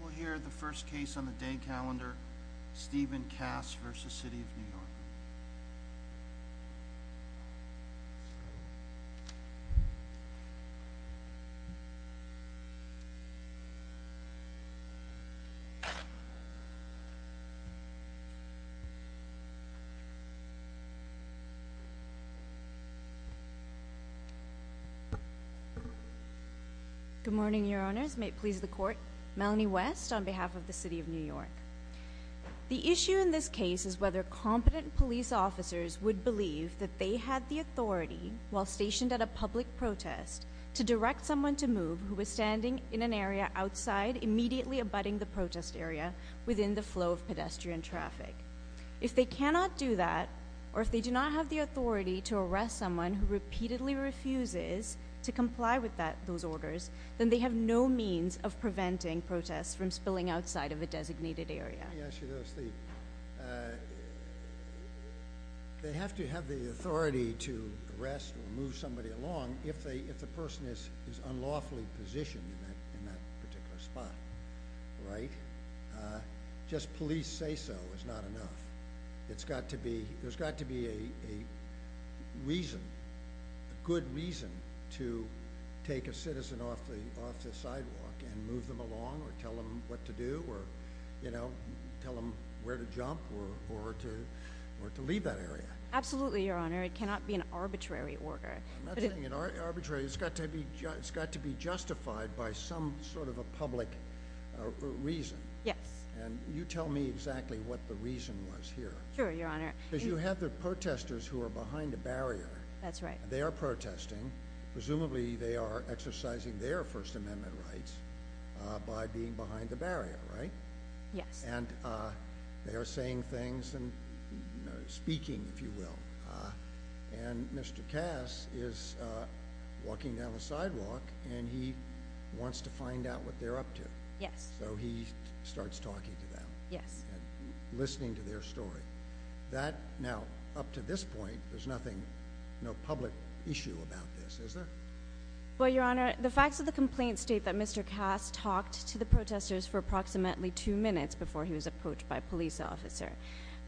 We'll hear the first case on the day calendar, Stephen Kass v. City of New York Good morning, Your Honours. May it please the Court. Melanie West on behalf of the City of New York. The issue in this case is whether competent police officers would believe that they had the authority, while stationed at a public protest, to direct someone to move who was standing in an area outside, immediately abutting the protest area within the flow of pedestrian traffic. If they cannot do that, or if they do not have the authority to arrest someone who repeatedly refuses to comply with those orders, then they have no means of preventing protests from spilling outside of a designated area. Let me ask you this. They have to have the authority to arrest or move somebody along if the person is unlawfully positioned in that particular spot, right? Just police say so is not enough. There's got to be a reason, a good reason, to take a citizen off the sidewalk and move them along, or tell them what to do, or tell them where to jump, or to leave that area. Absolutely, Your Honour. It cannot be an arbitrary order. I'm not saying it's arbitrary. It's got to be justified by some sort of a public reason. Yes. And you tell me exactly what the reason was here. Sure, Your Honour. Because you have the protesters who are behind a barrier. That's right. They are protesting. Presumably they are exercising their First Amendment rights by being behind the barrier, right? Yes. And they are saying things and speaking, if you will. And Mr. Cass is walking down the sidewalk and he wants to find out what they're up to. Yes. So he starts talking to them. Yes. Listening to their story. Now, up to this point, there's no public issue about this, is there? Well, Your Honour, the facts of the complaint state that Mr. Cass talked to the protesters for approximately two minutes before he was approached by a police officer.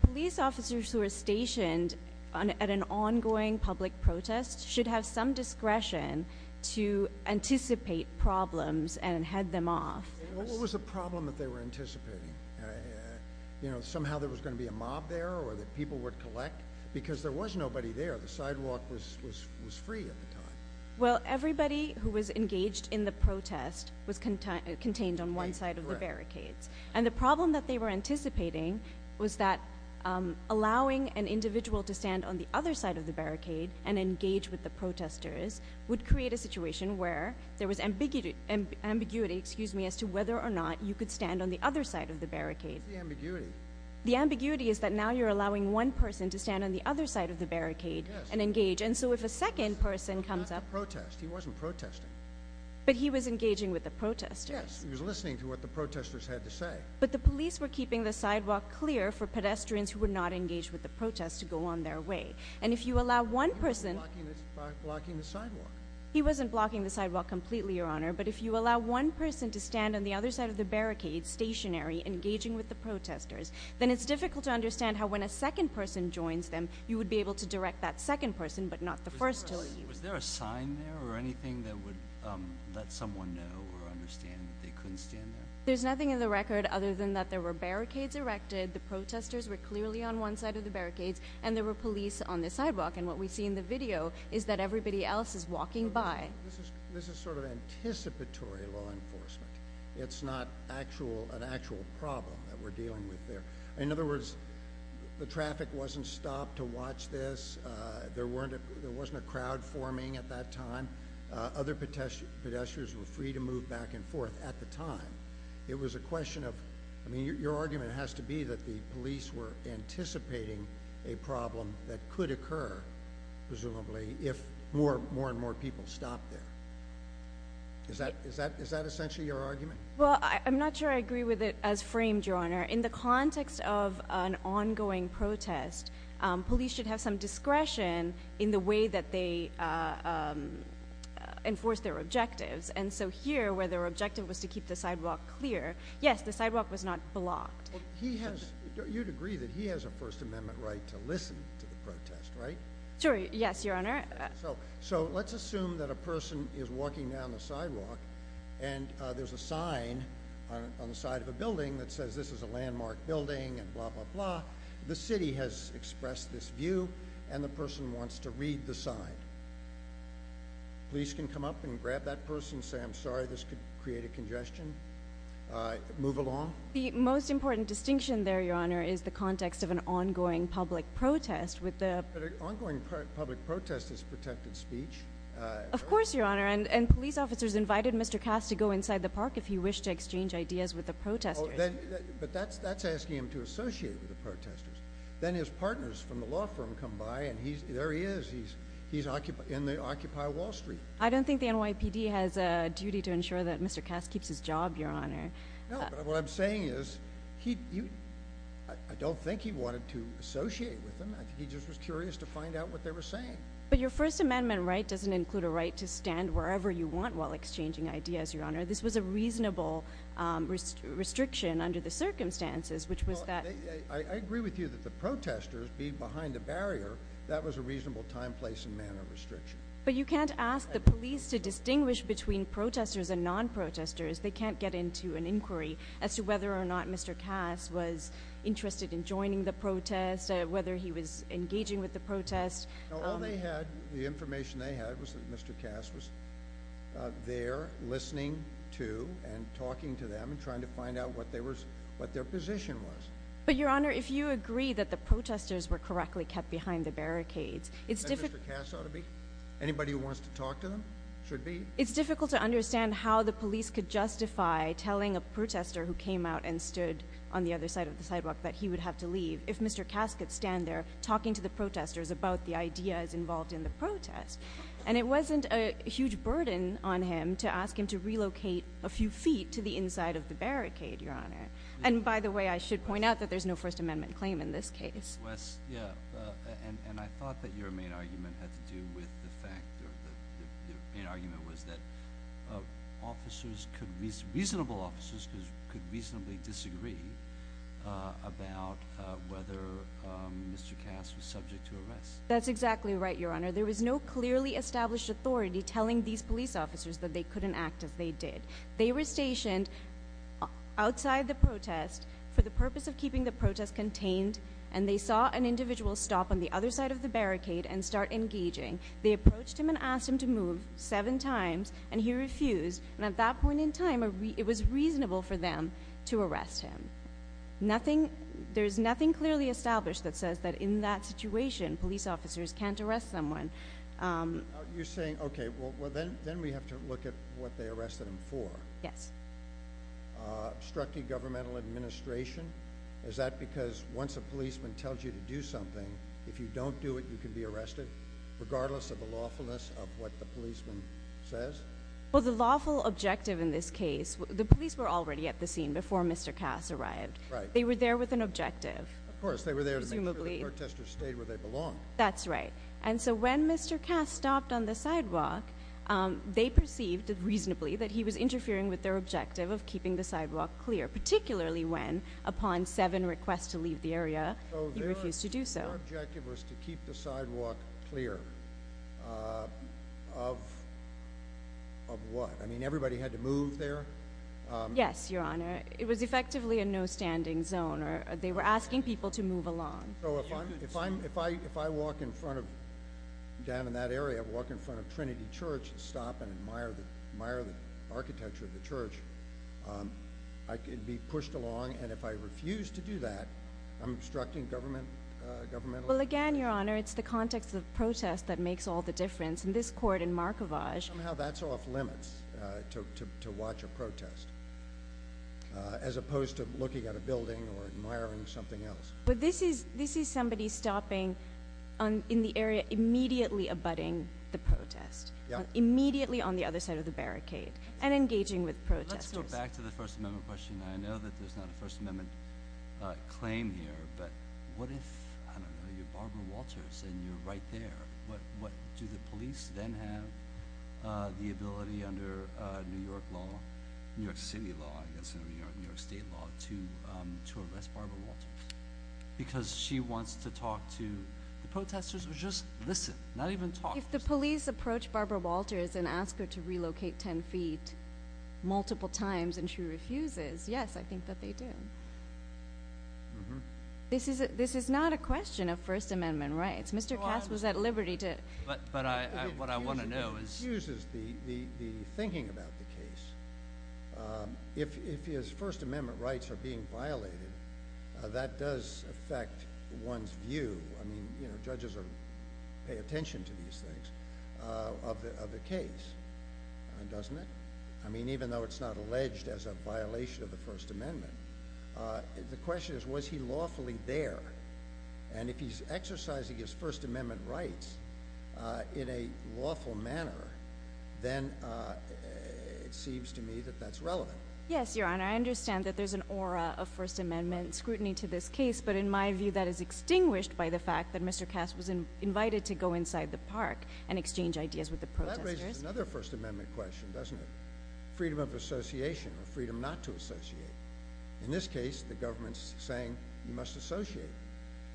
Police officers who are stationed at an ongoing public protest should have some discretion to anticipate problems and head them off. What was the problem that they were anticipating? You know, somehow there was going to be a mob there or that people would collect? Because there was nobody there. The sidewalk was free at the time. Well, everybody who was engaged in the protest was contained on one side of the barricades. And the problem that they were anticipating was that allowing an individual to stand on the other side of the barricade and engage with the protesters would create a situation where there was ambiguity as to whether or not you could stand on the other side of the barricade. What's the ambiguity? The ambiguity is that now you're allowing one person to stand on the other side of the barricade. He wasn't protesting. But he was engaging with the protesters. Yes, he was listening to what the protesters had to say. But the police were keeping the sidewalk clear for pedestrians who were not engaged with the protest to go on their way. And if you allow one person... He wasn't blocking the sidewalk. He wasn't blocking the sidewalk completely, Your Honour. But if you allow one person to stand on the other side of the barricade, stationary, engaging with the protesters, then it's difficult to understand how when a second person joins them, you would be able to direct that second person but not the first to leave. Was there a sign there or anything that would let someone know or understand that they couldn't stand there? There's nothing in the record other than that there were barricades erected, the protesters were clearly on one side of the barricades, and there were police on the sidewalk. And what we see in the video is that everybody else is walking by. This is sort of anticipatory law enforcement. It's not an actual problem that we're dealing with there. In other words, the traffic wasn't stopped to watch this. There wasn't a crowd forming at that time. Other pedestrians were free to move back and forth at the time. It was a question of... I mean, your argument has to be that the police were anticipating a problem that could occur, presumably, if more and more people stopped there. Is that essentially your argument? In the context of an ongoing protest, police should have some discretion in the way that they enforce their objectives. And so here, where their objective was to keep the sidewalk clear, yes, the sidewalk was not blocked. You'd agree that he has a First Amendment right to listen to the protest, right? Sure, yes, Your Honor. So let's assume that a person is walking down the sidewalk and there's a sign on the side of a building that says, this is a landmark building and blah, blah, blah. The city has expressed this view and the person wants to read the sign. Police can come up and grab that person, say, I'm sorry, this could create a congestion. Move along. The most important distinction there, Your Honor, is the context of an ongoing public protest. But an ongoing public protest is protected speech. Of course, Your Honor. And police officers invited Mr. Cass to go inside the park if he wished to exchange ideas with the protesters. Oh, but that's asking him to associate with the protesters. Then his partners from the law firm come by and there he is. He's in the Occupy Wall Street. I don't think the NYPD has a duty to ensure that Mr. Cass keeps his job, Your Honor. No, but what I'm saying is, I don't think he wanted to associate with them. I think he just was curious to find out what they were saying. But your First Amendment right doesn't include a right to stand wherever you want while exchanging ideas, Your Honor. This was a reasonable restriction under the circumstances, which was that... I agree with you that the protesters being behind the barrier, that was a reasonable time, place, and manner restriction. But you can't ask the police to distinguish between protesters and non-protesters. They can't get into an inquiry as to whether or not Mr. Cass was interested in joining the protest, whether he was engaging with the protest. No, all they had, the information they had, was that Mr. Cass was there listening to and talking to them and trying to find out what their position was. But Your Honor, if you agree that the protesters were correctly kept behind the barricades, it's difficult... That Mr. Cass ought to be? Anybody who wants to talk to them should be. It's difficult to understand how the police could justify telling a protester who came out and stood on the other side of the sidewalk that he would have to leave if Mr. Cass could stand there talking to the protesters about the ideas involved in the protest. And it wasn't a huge burden on him to ask him to relocate a few feet to the inside of the barricade, Your Honor. And by the way, I should point out that there's no First Amendment claim in this case. Wes, yeah. And I thought that your main argument had to do with the fact, or the main argument was that reasonable officers could reasonably disagree about whether Mr. Cass was subject to arrest. That's exactly right, Your Honor. There was no clearly established authority telling these police officers that they couldn't act as they did. They were stationed outside the protest for the purpose of keeping the protest contained, and they saw an individual stop on the other side of the barricade and start engaging. They approached him and asked him to move seven times, and he refused, and at that point in time, it was reasonable for them to arrest him. There's nothing clearly established that says that in that situation, police officers can't arrest someone. You're saying, okay, well, then we have to look at what they arrested him for. Yes. Obstructing governmental administration. Is that because once a policeman tells you to do something, if you don't do it, you can be arrested? Regardless of the lawfulness of what the policeman says? Well, the lawful objective in this case, the police were already at the scene before Mr. Cass arrived. Right. They were there with an objective. Of course. They were there to make sure the protesters stayed where they belonged. That's right. And so when Mr. Cass stopped on the sidewalk, they perceived, reasonably, that he was interfering with their objective of keeping the sidewalk clear, particularly when, upon seven requests to leave the area, he refused to do so. Their objective was to keep the sidewalk clear of what? I mean, everybody had to move there? Yes, Your Honor. It was effectively a no-standing zone. They were asking people to move along. If I walk in front of, down in that area, walk in front of Trinity Church and stop and admire the architecture of the church, I could be pushed along, and if I refuse to do that, I'm obstructing government? Well, again, Your Honor, it's the context of the protest that makes all the difference. In this court, in Markovage— Somehow that's off-limits, to watch a protest, as opposed to looking at a building or admiring something else. But this is somebody stopping in the area, immediately abutting the protest, immediately on the other side of the barricade, and engaging with protesters. Let's go back to the First Amendment question. I know that there's not a First Amendment claim here, but what if, I don't know, you're Barbara Walters and you're right there, what do the police then have the ability, under New York law, New York City law, I guess, or New York State law, to arrest Barbara Walters? Because she wants to talk to the protesters, or just listen, not even talk? If the police approach Barbara Walters and ask her to relocate 10 feet multiple times and she refuses, yes, I think that they do. This is not a question of First Amendment rights. Mr. Cass was at liberty to— But what I want to know is— It infuses the thinking about the case. If his First Amendment rights are being violated, that does affect one's view. I mean, you know, judges pay attention to these things, of the case, doesn't it? I mean, even though it's not alleged as a violation of the First Amendment, the question is, was he lawfully there? And if he's exercising his First Amendment rights in a lawful manner, then it seems to me that that's relevant. Yes, Your Honor. I understand that there's an aura of First Amendment scrutiny to this case, but in my view that is extinguished by the fact that Mr. Cass was invited to go inside the park and exchange ideas with the protesters. That raises another First Amendment question, doesn't it? Freedom of association, or freedom not to associate. In this case, the government's saying you must associate,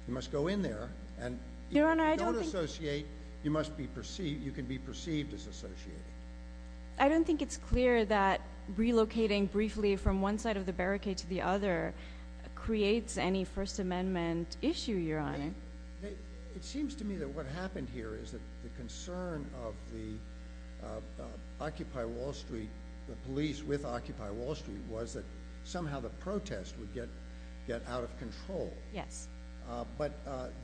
you must go in there, and if you don't associate, you can be perceived as associating. I don't think it's clear that relocating briefly from one side of the barricade to the other creates any First Amendment issue, Your Honor. It seems to me that what happened here is that the concern of the Occupy Wall Street, the police with Occupy Wall Street, was that somehow the protest would get out of control. But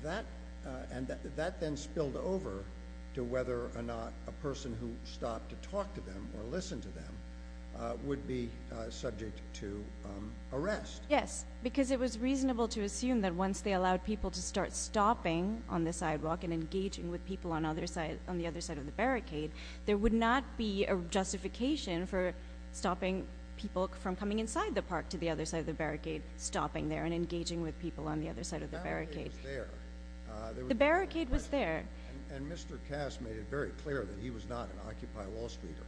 that then spilled over to whether or not a person who stopped to talk to them or listen Yes, because it was reasonable to assume that once they allowed people to start stopping on the sidewalk and engaging with people on the other side of the barricade, there would not be a justification for stopping people from coming inside the park to the other side of the barricade, stopping there and engaging with people on the other side of the barricade. The barricade was there. And Mr. Cass made it very clear that he was not an Occupy Wall Streeter.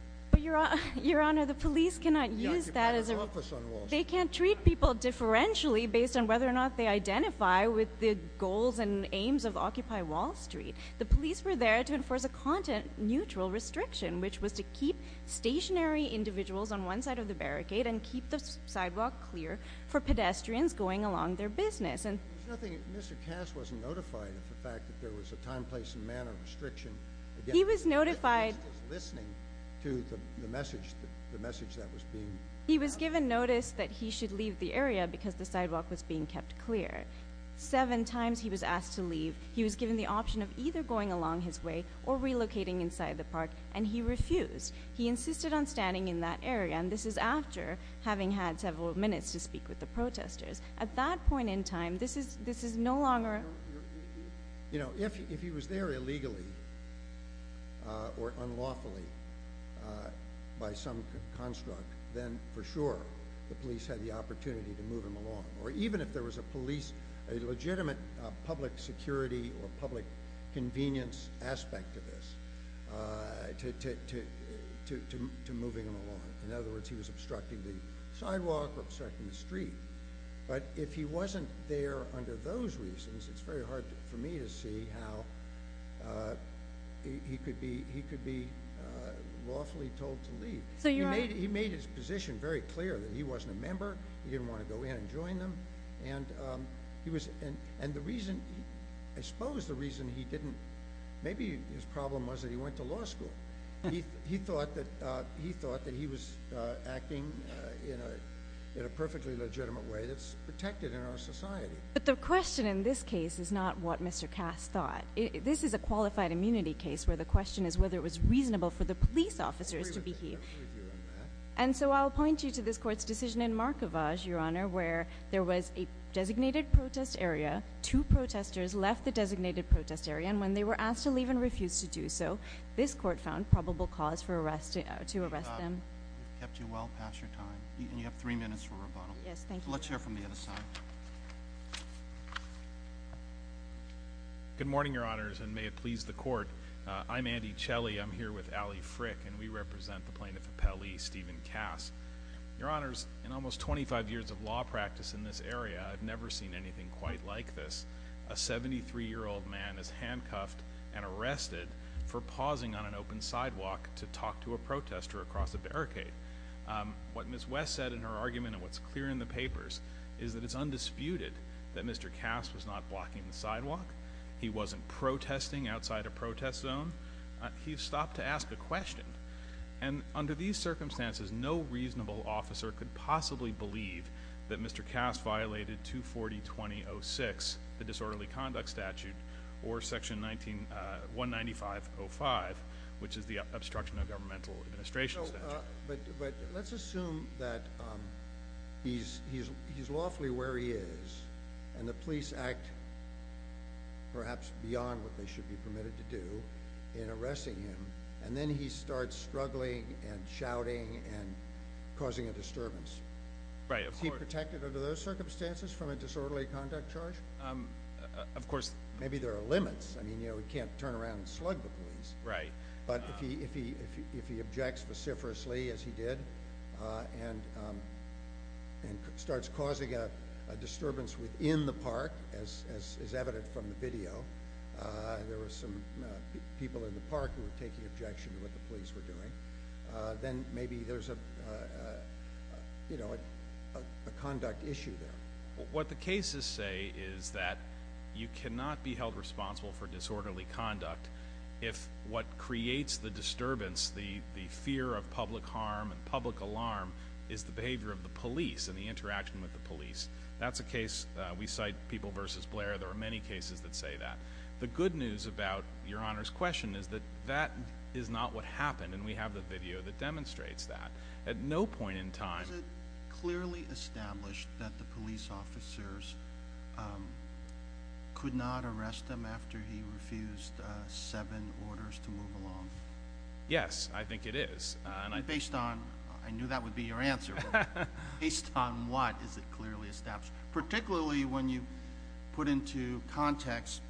Your Honor, the police cannot use that as a- The Occupy Wall Street office. They can't treat people differentially based on whether or not they identify with the goals and aims of Occupy Wall Street. The police were there to enforce a content-neutral restriction, which was to keep stationary individuals on one side of the barricade and keep the sidewalk clear for pedestrians going along their business. There's nothing- Mr. Cass wasn't notified of the fact that there was a time, place, and manner restriction against- He was notified- Just as listening to the message that was being- He was given notice that he should leave the area because the sidewalk was being kept clear. Seven times he was asked to leave. He was given the option of either going along his way or relocating inside the park, and he refused. He insisted on standing in that area, and this is after having had several minutes to speak with the protesters. At that point in time, this is no longer- If he was there illegally or unlawfully by some construct, then for sure the police had the opportunity to move him along, or even if there was a legitimate public security or public convenience aspect to this, to moving him along. In other words, he was obstructing the sidewalk or obstructing the street, but if he wasn't there under those reasons, it's very hard for me to see how he could be lawfully told to leave. He made his position very clear that he wasn't a member, he didn't want to go in and join them, and I suppose the reason he didn't- Maybe his problem was that he went to law school. He thought that he was acting in a perfectly legitimate way that's protected in our society. But the question in this case is not what Mr. Cass thought. This is a qualified immunity case where the question is whether it was reasonable for the police officers to behave- I agree with you on that. And so I'll point you to this court's decision in Markovage, Your Honor, where there was a designated protest area, two protesters left the designated protest area, and when they were asked to leave and refused to do so, this court found probable cause for arresting- to arrest them. Kept you well past your time. And you have three minutes for rebuttal. Yes, thank you. Let's hear from the other side. Good morning, Your Honors, and may it please the court. I'm Andy Chelley, I'm here with Allie Frick, and we represent the plaintiff of Pele, Steven Cass. Your Honors, in almost 25 years of law practice in this area, I've never seen anything quite like this. A 73-year-old man is handcuffed and arrested for pausing on an open sidewalk to talk to a protester across a barricade. What Ms. West said in her argument, and what's clear in the papers, is that it's undisputed that Mr. Cass was not blocking the sidewalk, he wasn't protesting outside a protest zone, he stopped to ask a question. And under these circumstances, no reasonable officer could possibly believe that Mr. Cass violated 240.20.06, the disorderly conduct statute, or section 195.05, which is the obstruction of governmental administration statute. But let's assume that he's lawfully where he is, and the police act perhaps beyond what they should be permitted to do in arresting him, and then he starts struggling and shouting Right, of course. Would he be protected under those circumstances from a disorderly conduct charge? Of course. Maybe there are limits. I mean, you know, he can't turn around and slug the police. Right. But if he objects vociferously, as he did, and starts causing a disturbance within the park, as is evident from the video, there were some people in the park who were taking objection to what the police were doing. Then maybe there's a, you know, a conduct issue there. What the cases say is that you cannot be held responsible for disorderly conduct if what creates the disturbance, the fear of public harm and public alarm, is the behavior of the police and the interaction with the police. That's a case, we cite People v. Blair, there are many cases that say that. The good news about Your Honor's question is that that is not what happened, and we have the video that demonstrates that. At no point in time— Is it clearly established that the police officers could not arrest him after he refused seven orders to move along? Yes, I think it is. Based on—I knew that would be your answer—based on what is it clearly established? Particularly when you put into context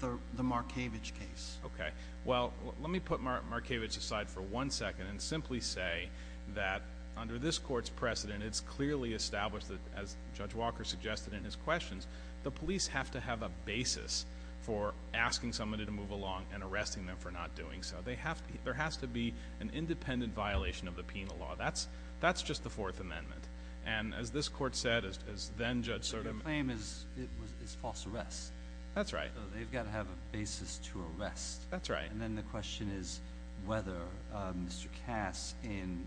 the Markievicz case. Okay. Well, let me put Markievicz aside for one second and simply say that under this court's precedent, it's clearly established that, as Judge Walker suggested in his questions, the police have to have a basis for asking somebody to move along and arresting them for not doing so. There has to be an independent violation of the penal law. That's just the Fourth Amendment. And as this court said, as then-Judge Sotomayor— But the claim is false arrest. That's right. So they've got to have a basis to arrest. That's right. And then the question is whether Mr. Cass, in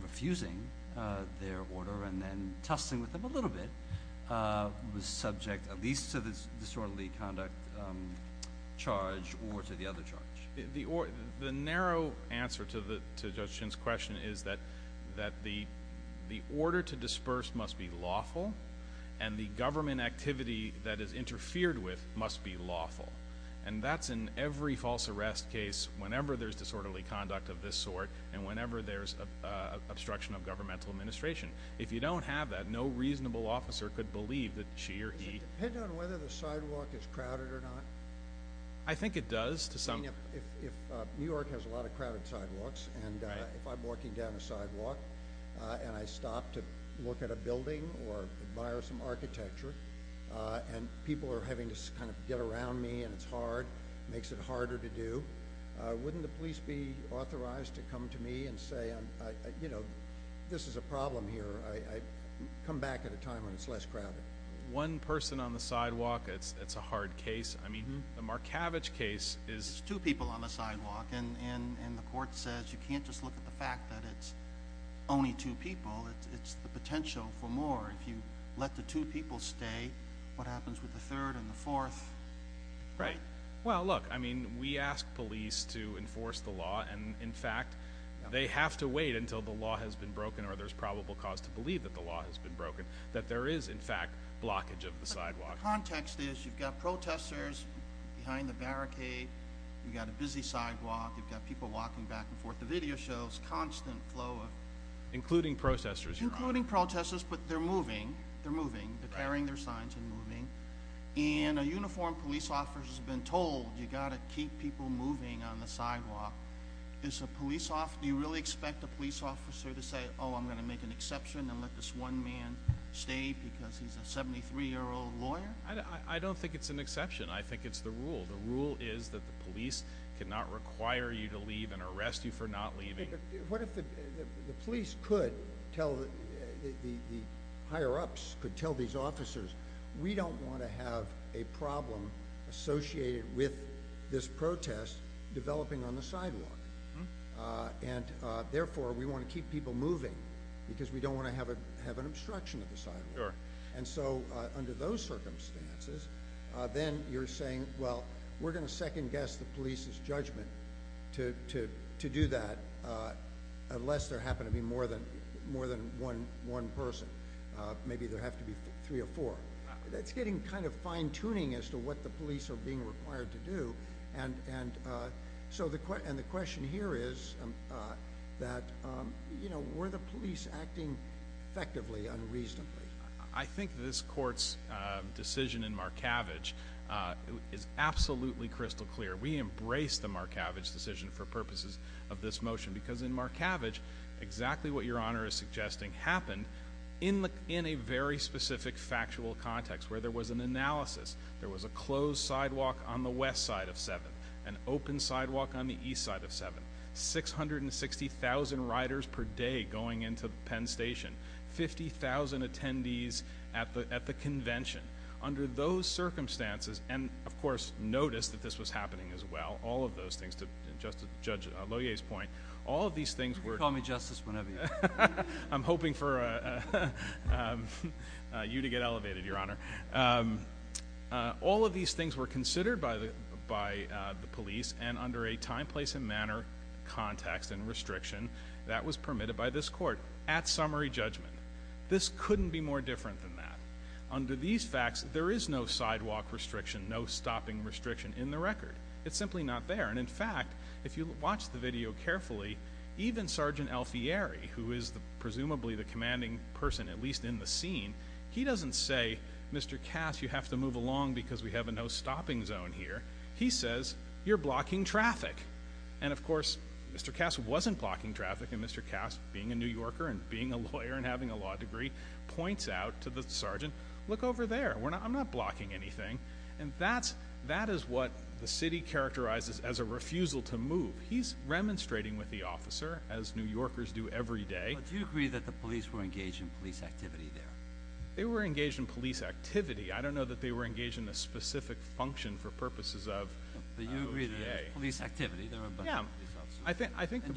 refusing their order and then tussling with them a little bit, was subject at least to this disorderly conduct charge or to the other charge. The narrow answer to Judge Shinn's question is that the order to disperse must be lawful and the government activity that is interfered with must be lawful. And that's in every false arrest case, whenever there's disorderly conduct of this sort and whenever there's obstruction of governmental administration. If you don't have that, no reasonable officer could believe that she or he— Does it depend on whether the sidewalk is crowded or not? I think it does. I mean, if New York has a lot of crowded sidewalks, and if I'm walking down a sidewalk and I stop to look at a building or admire some architecture, and people are having to kind of get around me and it's hard, makes it harder to do, wouldn't the police be authorized to come to me and say, you know, this is a problem here, come back at a time when it's less crowded? One person on the sidewalk, it's a hard case. I mean, the Markavich case is— There's two people on the sidewalk and the court says you can't just look at the fact that it's only two people, it's the potential for more. If you let the two people stay, what happens with the third and the fourth? Right. Well, look, I mean, we ask police to enforce the law and, in fact, they have to wait until the law has been broken or there's probable cause to believe that the law has been broken, that there is, in fact, blockage of the sidewalk. The context is you've got protesters behind the barricade, you've got a busy sidewalk, you've got people walking back and forth. The video shows constant flow of— Including protesters. Including protesters, but they're moving, they're moving, they're carrying their signs and moving. And a uniformed police officer has been told you've got to keep people moving on the sidewalk. Is a police—do you really expect a police officer to say, oh, I'm going to make an exception and let this one man stay because he's a 73-year-old lawyer? I don't think it's an exception. I think it's the rule. The rule is that the police cannot require you to leave and arrest you for not leaving. What if the police could tell—the higher-ups could tell these officers, we don't want to have a problem associated with this protest developing on the sidewalk, and therefore, we want to keep people moving because we don't want to have an obstruction of the sidewalk. And so, under those circumstances, then you're saying, well, we're going to second-guess the police's judgment to do that unless there happen to be more than one person. Maybe there have to be three or four. That's getting kind of fine-tuning as to what the police are being required to do. And so, the question here is that, you know, were the police acting effectively, unreasonably? I think this Court's decision in Markavage is absolutely crystal clear. We embraced the Markavage decision for purposes of this motion because in Markavage, exactly what Your Honor is suggesting happened in a very specific factual context where there was an analysis. There was a closed sidewalk on the west side of 7th, an open sidewalk on the east side of 7th, 660,000 riders per day going into Penn Station, 50,000 attendees at the convention. Under those circumstances—and, of course, notice that this was happening as well, all of those things, to Judge Lohier's point, all of these things were— You can call me Justice whenever you want. I'm hoping for you to get elevated, Your Honor. All of these things were considered by the police and under a time, place, and manner context and restriction that was permitted by this Court at summary judgment. This couldn't be more different than that. Under these facts, there is no sidewalk restriction, no stopping restriction in the record. It's simply not there. In fact, if you watch the video carefully, even Sergeant Alfieri, who is presumably the commanding person, at least in the scene, he doesn't say, Mr. Cass, you have to move along because we have a no-stopping zone here. He says, you're blocking traffic. Of course, Mr. Cass wasn't blocking traffic and Mr. Cass, being a New Yorker and being a lawyer and having a law degree, points out to the sergeant, look over there, I'm not blocking anything. That is what the city characterizes as a refusal to move. He's remonstrating with the officer, as New Yorkers do every day. Do you agree that the police were engaged in police activity there? They were engaged in police activity. I don't know that they were engaged in a specific function for purposes of OJ. But you agree that there was police activity, there were a bunch of police officers.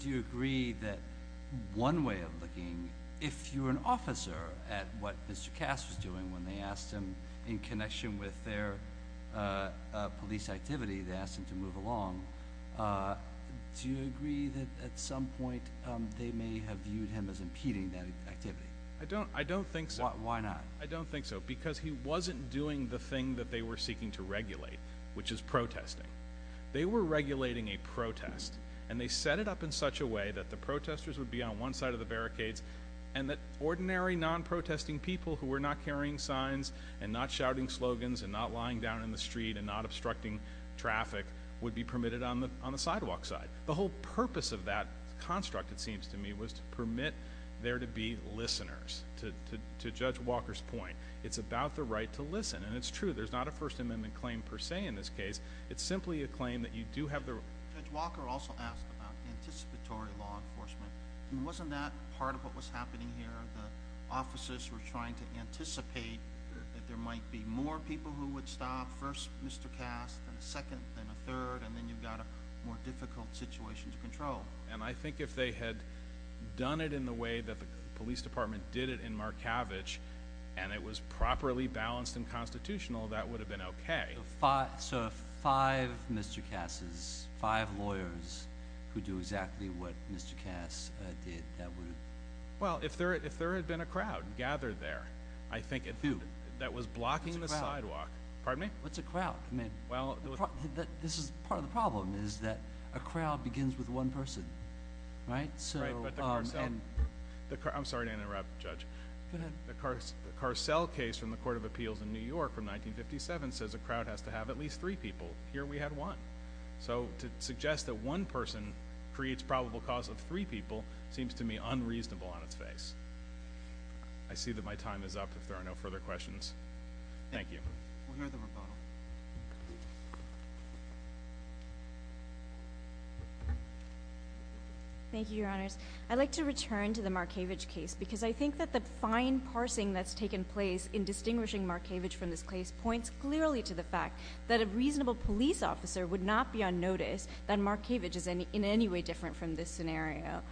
Do you agree that one way of looking, if you're an officer, at what Mr. Cass was doing when they asked him, in connection with their police activity, they asked him to move along, do you agree that at some point they may have viewed him as impeding that activity? I don't think so. Why not? I don't think so. Because he wasn't doing the thing that they were seeking to regulate, which is protesting. They were regulating a protest and they set it up in such a way that the protesters would be on one side of the barricades and that ordinary non-protesting people who were not carrying signs and not shouting slogans and not lying down in the street and not obstructing traffic would be permitted on the sidewalk side. The whole purpose of that construct, it seems to me, was to permit there to be listeners, to Judge Walker's point. It's about the right to listen, and it's true. There's not a First Amendment claim, per se, in this case. It's simply a claim that you do have the right to listen. Judge Walker also asked about anticipatory law enforcement, and wasn't that part of what was happening here? The officers were trying to anticipate that there might be more people who would stop, first Mr. Cass, then a second, then a third, and then you've got a more difficult situation to control. And I think if they had done it in the way that the police department did it in Markavich and it was properly balanced and constitutional, that would have been okay. So if five Mr. Casses, five lawyers, could do exactly what Mr. Cass did, that would have been okay. If there had been a crowd gathered there, I think, that was blocking the sidewalk. What's a crowd? Pardon me? What's a crowd? I mean, this is part of the problem, is that a crowd begins with one person, right? Right. But the Car-Cell. I'm sorry to interrupt, Judge. Go ahead. The Car-Cell case from the Court of Appeals in New York from 1957 says a crowd has to have at least three people. Here we had one. So to suggest that one person creates probable cause of three people seems to me unreasonable on its face. I see that my time is up if there are no further questions. Thank you. We'll hear the rebuttal. Thank you, Your Honors. I'd like to return to the Markavich case because I think that the fine parsing that's taken place in distinguishing Markavich from this case points clearly to the fact that a reasonable police officer would not be on notice that Markavich is in any way different from this scenario.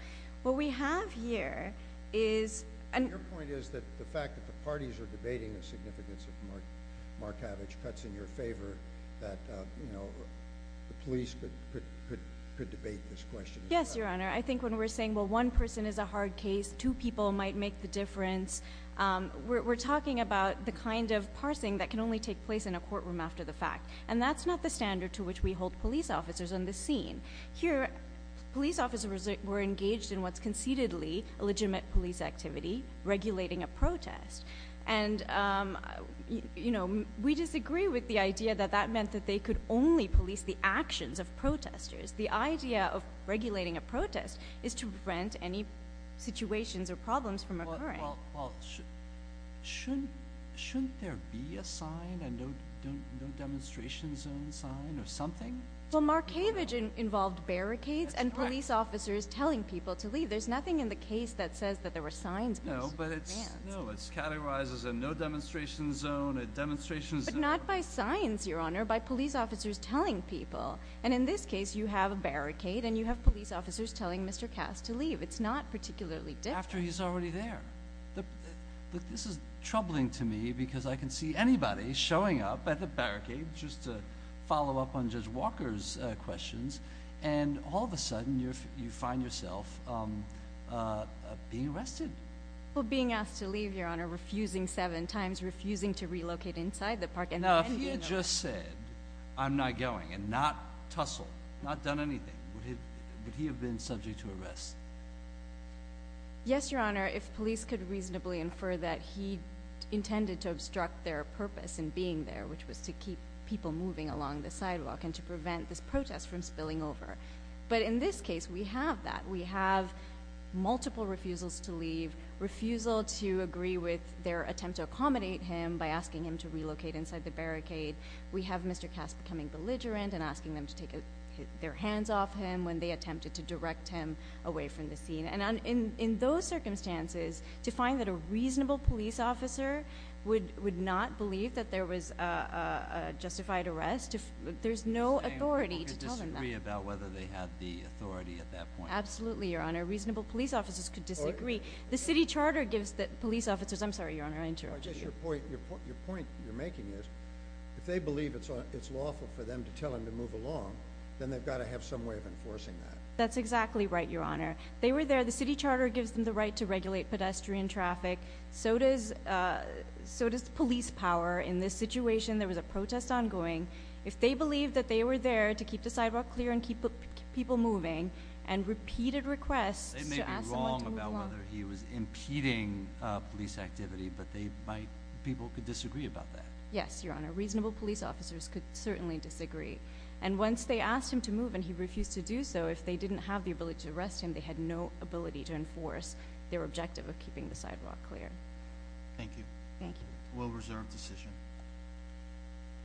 What we have here is— Your point is that the fact that the parties are debating the significance of Markavich cuts in your favor, that, you know, the police could debate this question. Yes, Your Honor. I think when we're saying, well, one person is a hard case, two people might make the difference, we're talking about the kind of parsing that can only take place in a courtroom after the fact. And that's not the standard to which we hold police officers on the scene. Here, police officers were engaged in what's concededly a legitimate police activity, regulating a protest. And, you know, we disagree with the idea that that meant that they could only police the actions of protesters. The idea of regulating a protest is to prevent any situations or problems from occurring. Well, shouldn't there be a sign and no demonstration zone sign or something? Well, Markavich involved barricades and police officers telling people to leave. There's nothing in the case that says that there were signs. No, but it's— No, it's categorized as a no demonstration zone, a demonstration zone— But not by signs, Your Honor, by police officers telling people. And in this case, you have a barricade and you have police officers telling Mr. Cass to leave. It's not particularly different. After he's already there. Look, this is troubling to me because I can see anybody showing up at the barricade just to follow up on Judge Walker's questions. And all of a sudden, you find yourself being arrested. Well, being asked to leave, Your Honor, refusing seven times, refusing to relocate inside the park— Now, if he had just said, I'm not going, and not tussled, not done anything, would he have been subject to arrest? Yes, Your Honor. If police could reasonably infer that he intended to obstruct their purpose in being there, which was to keep people moving along the sidewalk and to prevent this protest from spilling over. But in this case, we have that. We have multiple refusals to leave, refusal to agree with their attempt to accommodate him by asking him to relocate inside the barricade. We have Mr. Cass becoming belligerent and asking them to take their hands off him when they attempted to direct him away from the scene. And in those circumstances, to find that a reasonable police officer would not believe that there was a justified arrest, there's no authority to tell them that. You're saying people could disagree about whether they had the authority at that point? Absolutely, Your Honor. Reasonable police officers could disagree. The city charter gives the police officers— I'm sorry, Your Honor, I interrupted you. Your point you're making is, if they believe it's lawful for them to tell him to move along, then they've got to have some way of enforcing that. That's exactly right, Your Honor. They were there. The city charter gives them the right to regulate pedestrian traffic. So does police power. In this situation, there was a protest ongoing. If they believed that they were there to keep the sidewalk clear and keep people moving, and repeated requests to ask someone to move along— They may be wrong about whether he was impeding police activity, but people could disagree about that. Yes, Your Honor. Reasonable police officers could certainly disagree. And once they asked him to move and he refused to do so, if they didn't have the ability to arrest him, they had no ability to enforce their objective of keeping the sidewalk clear. Thank you. Thank you. A well-reserved decision.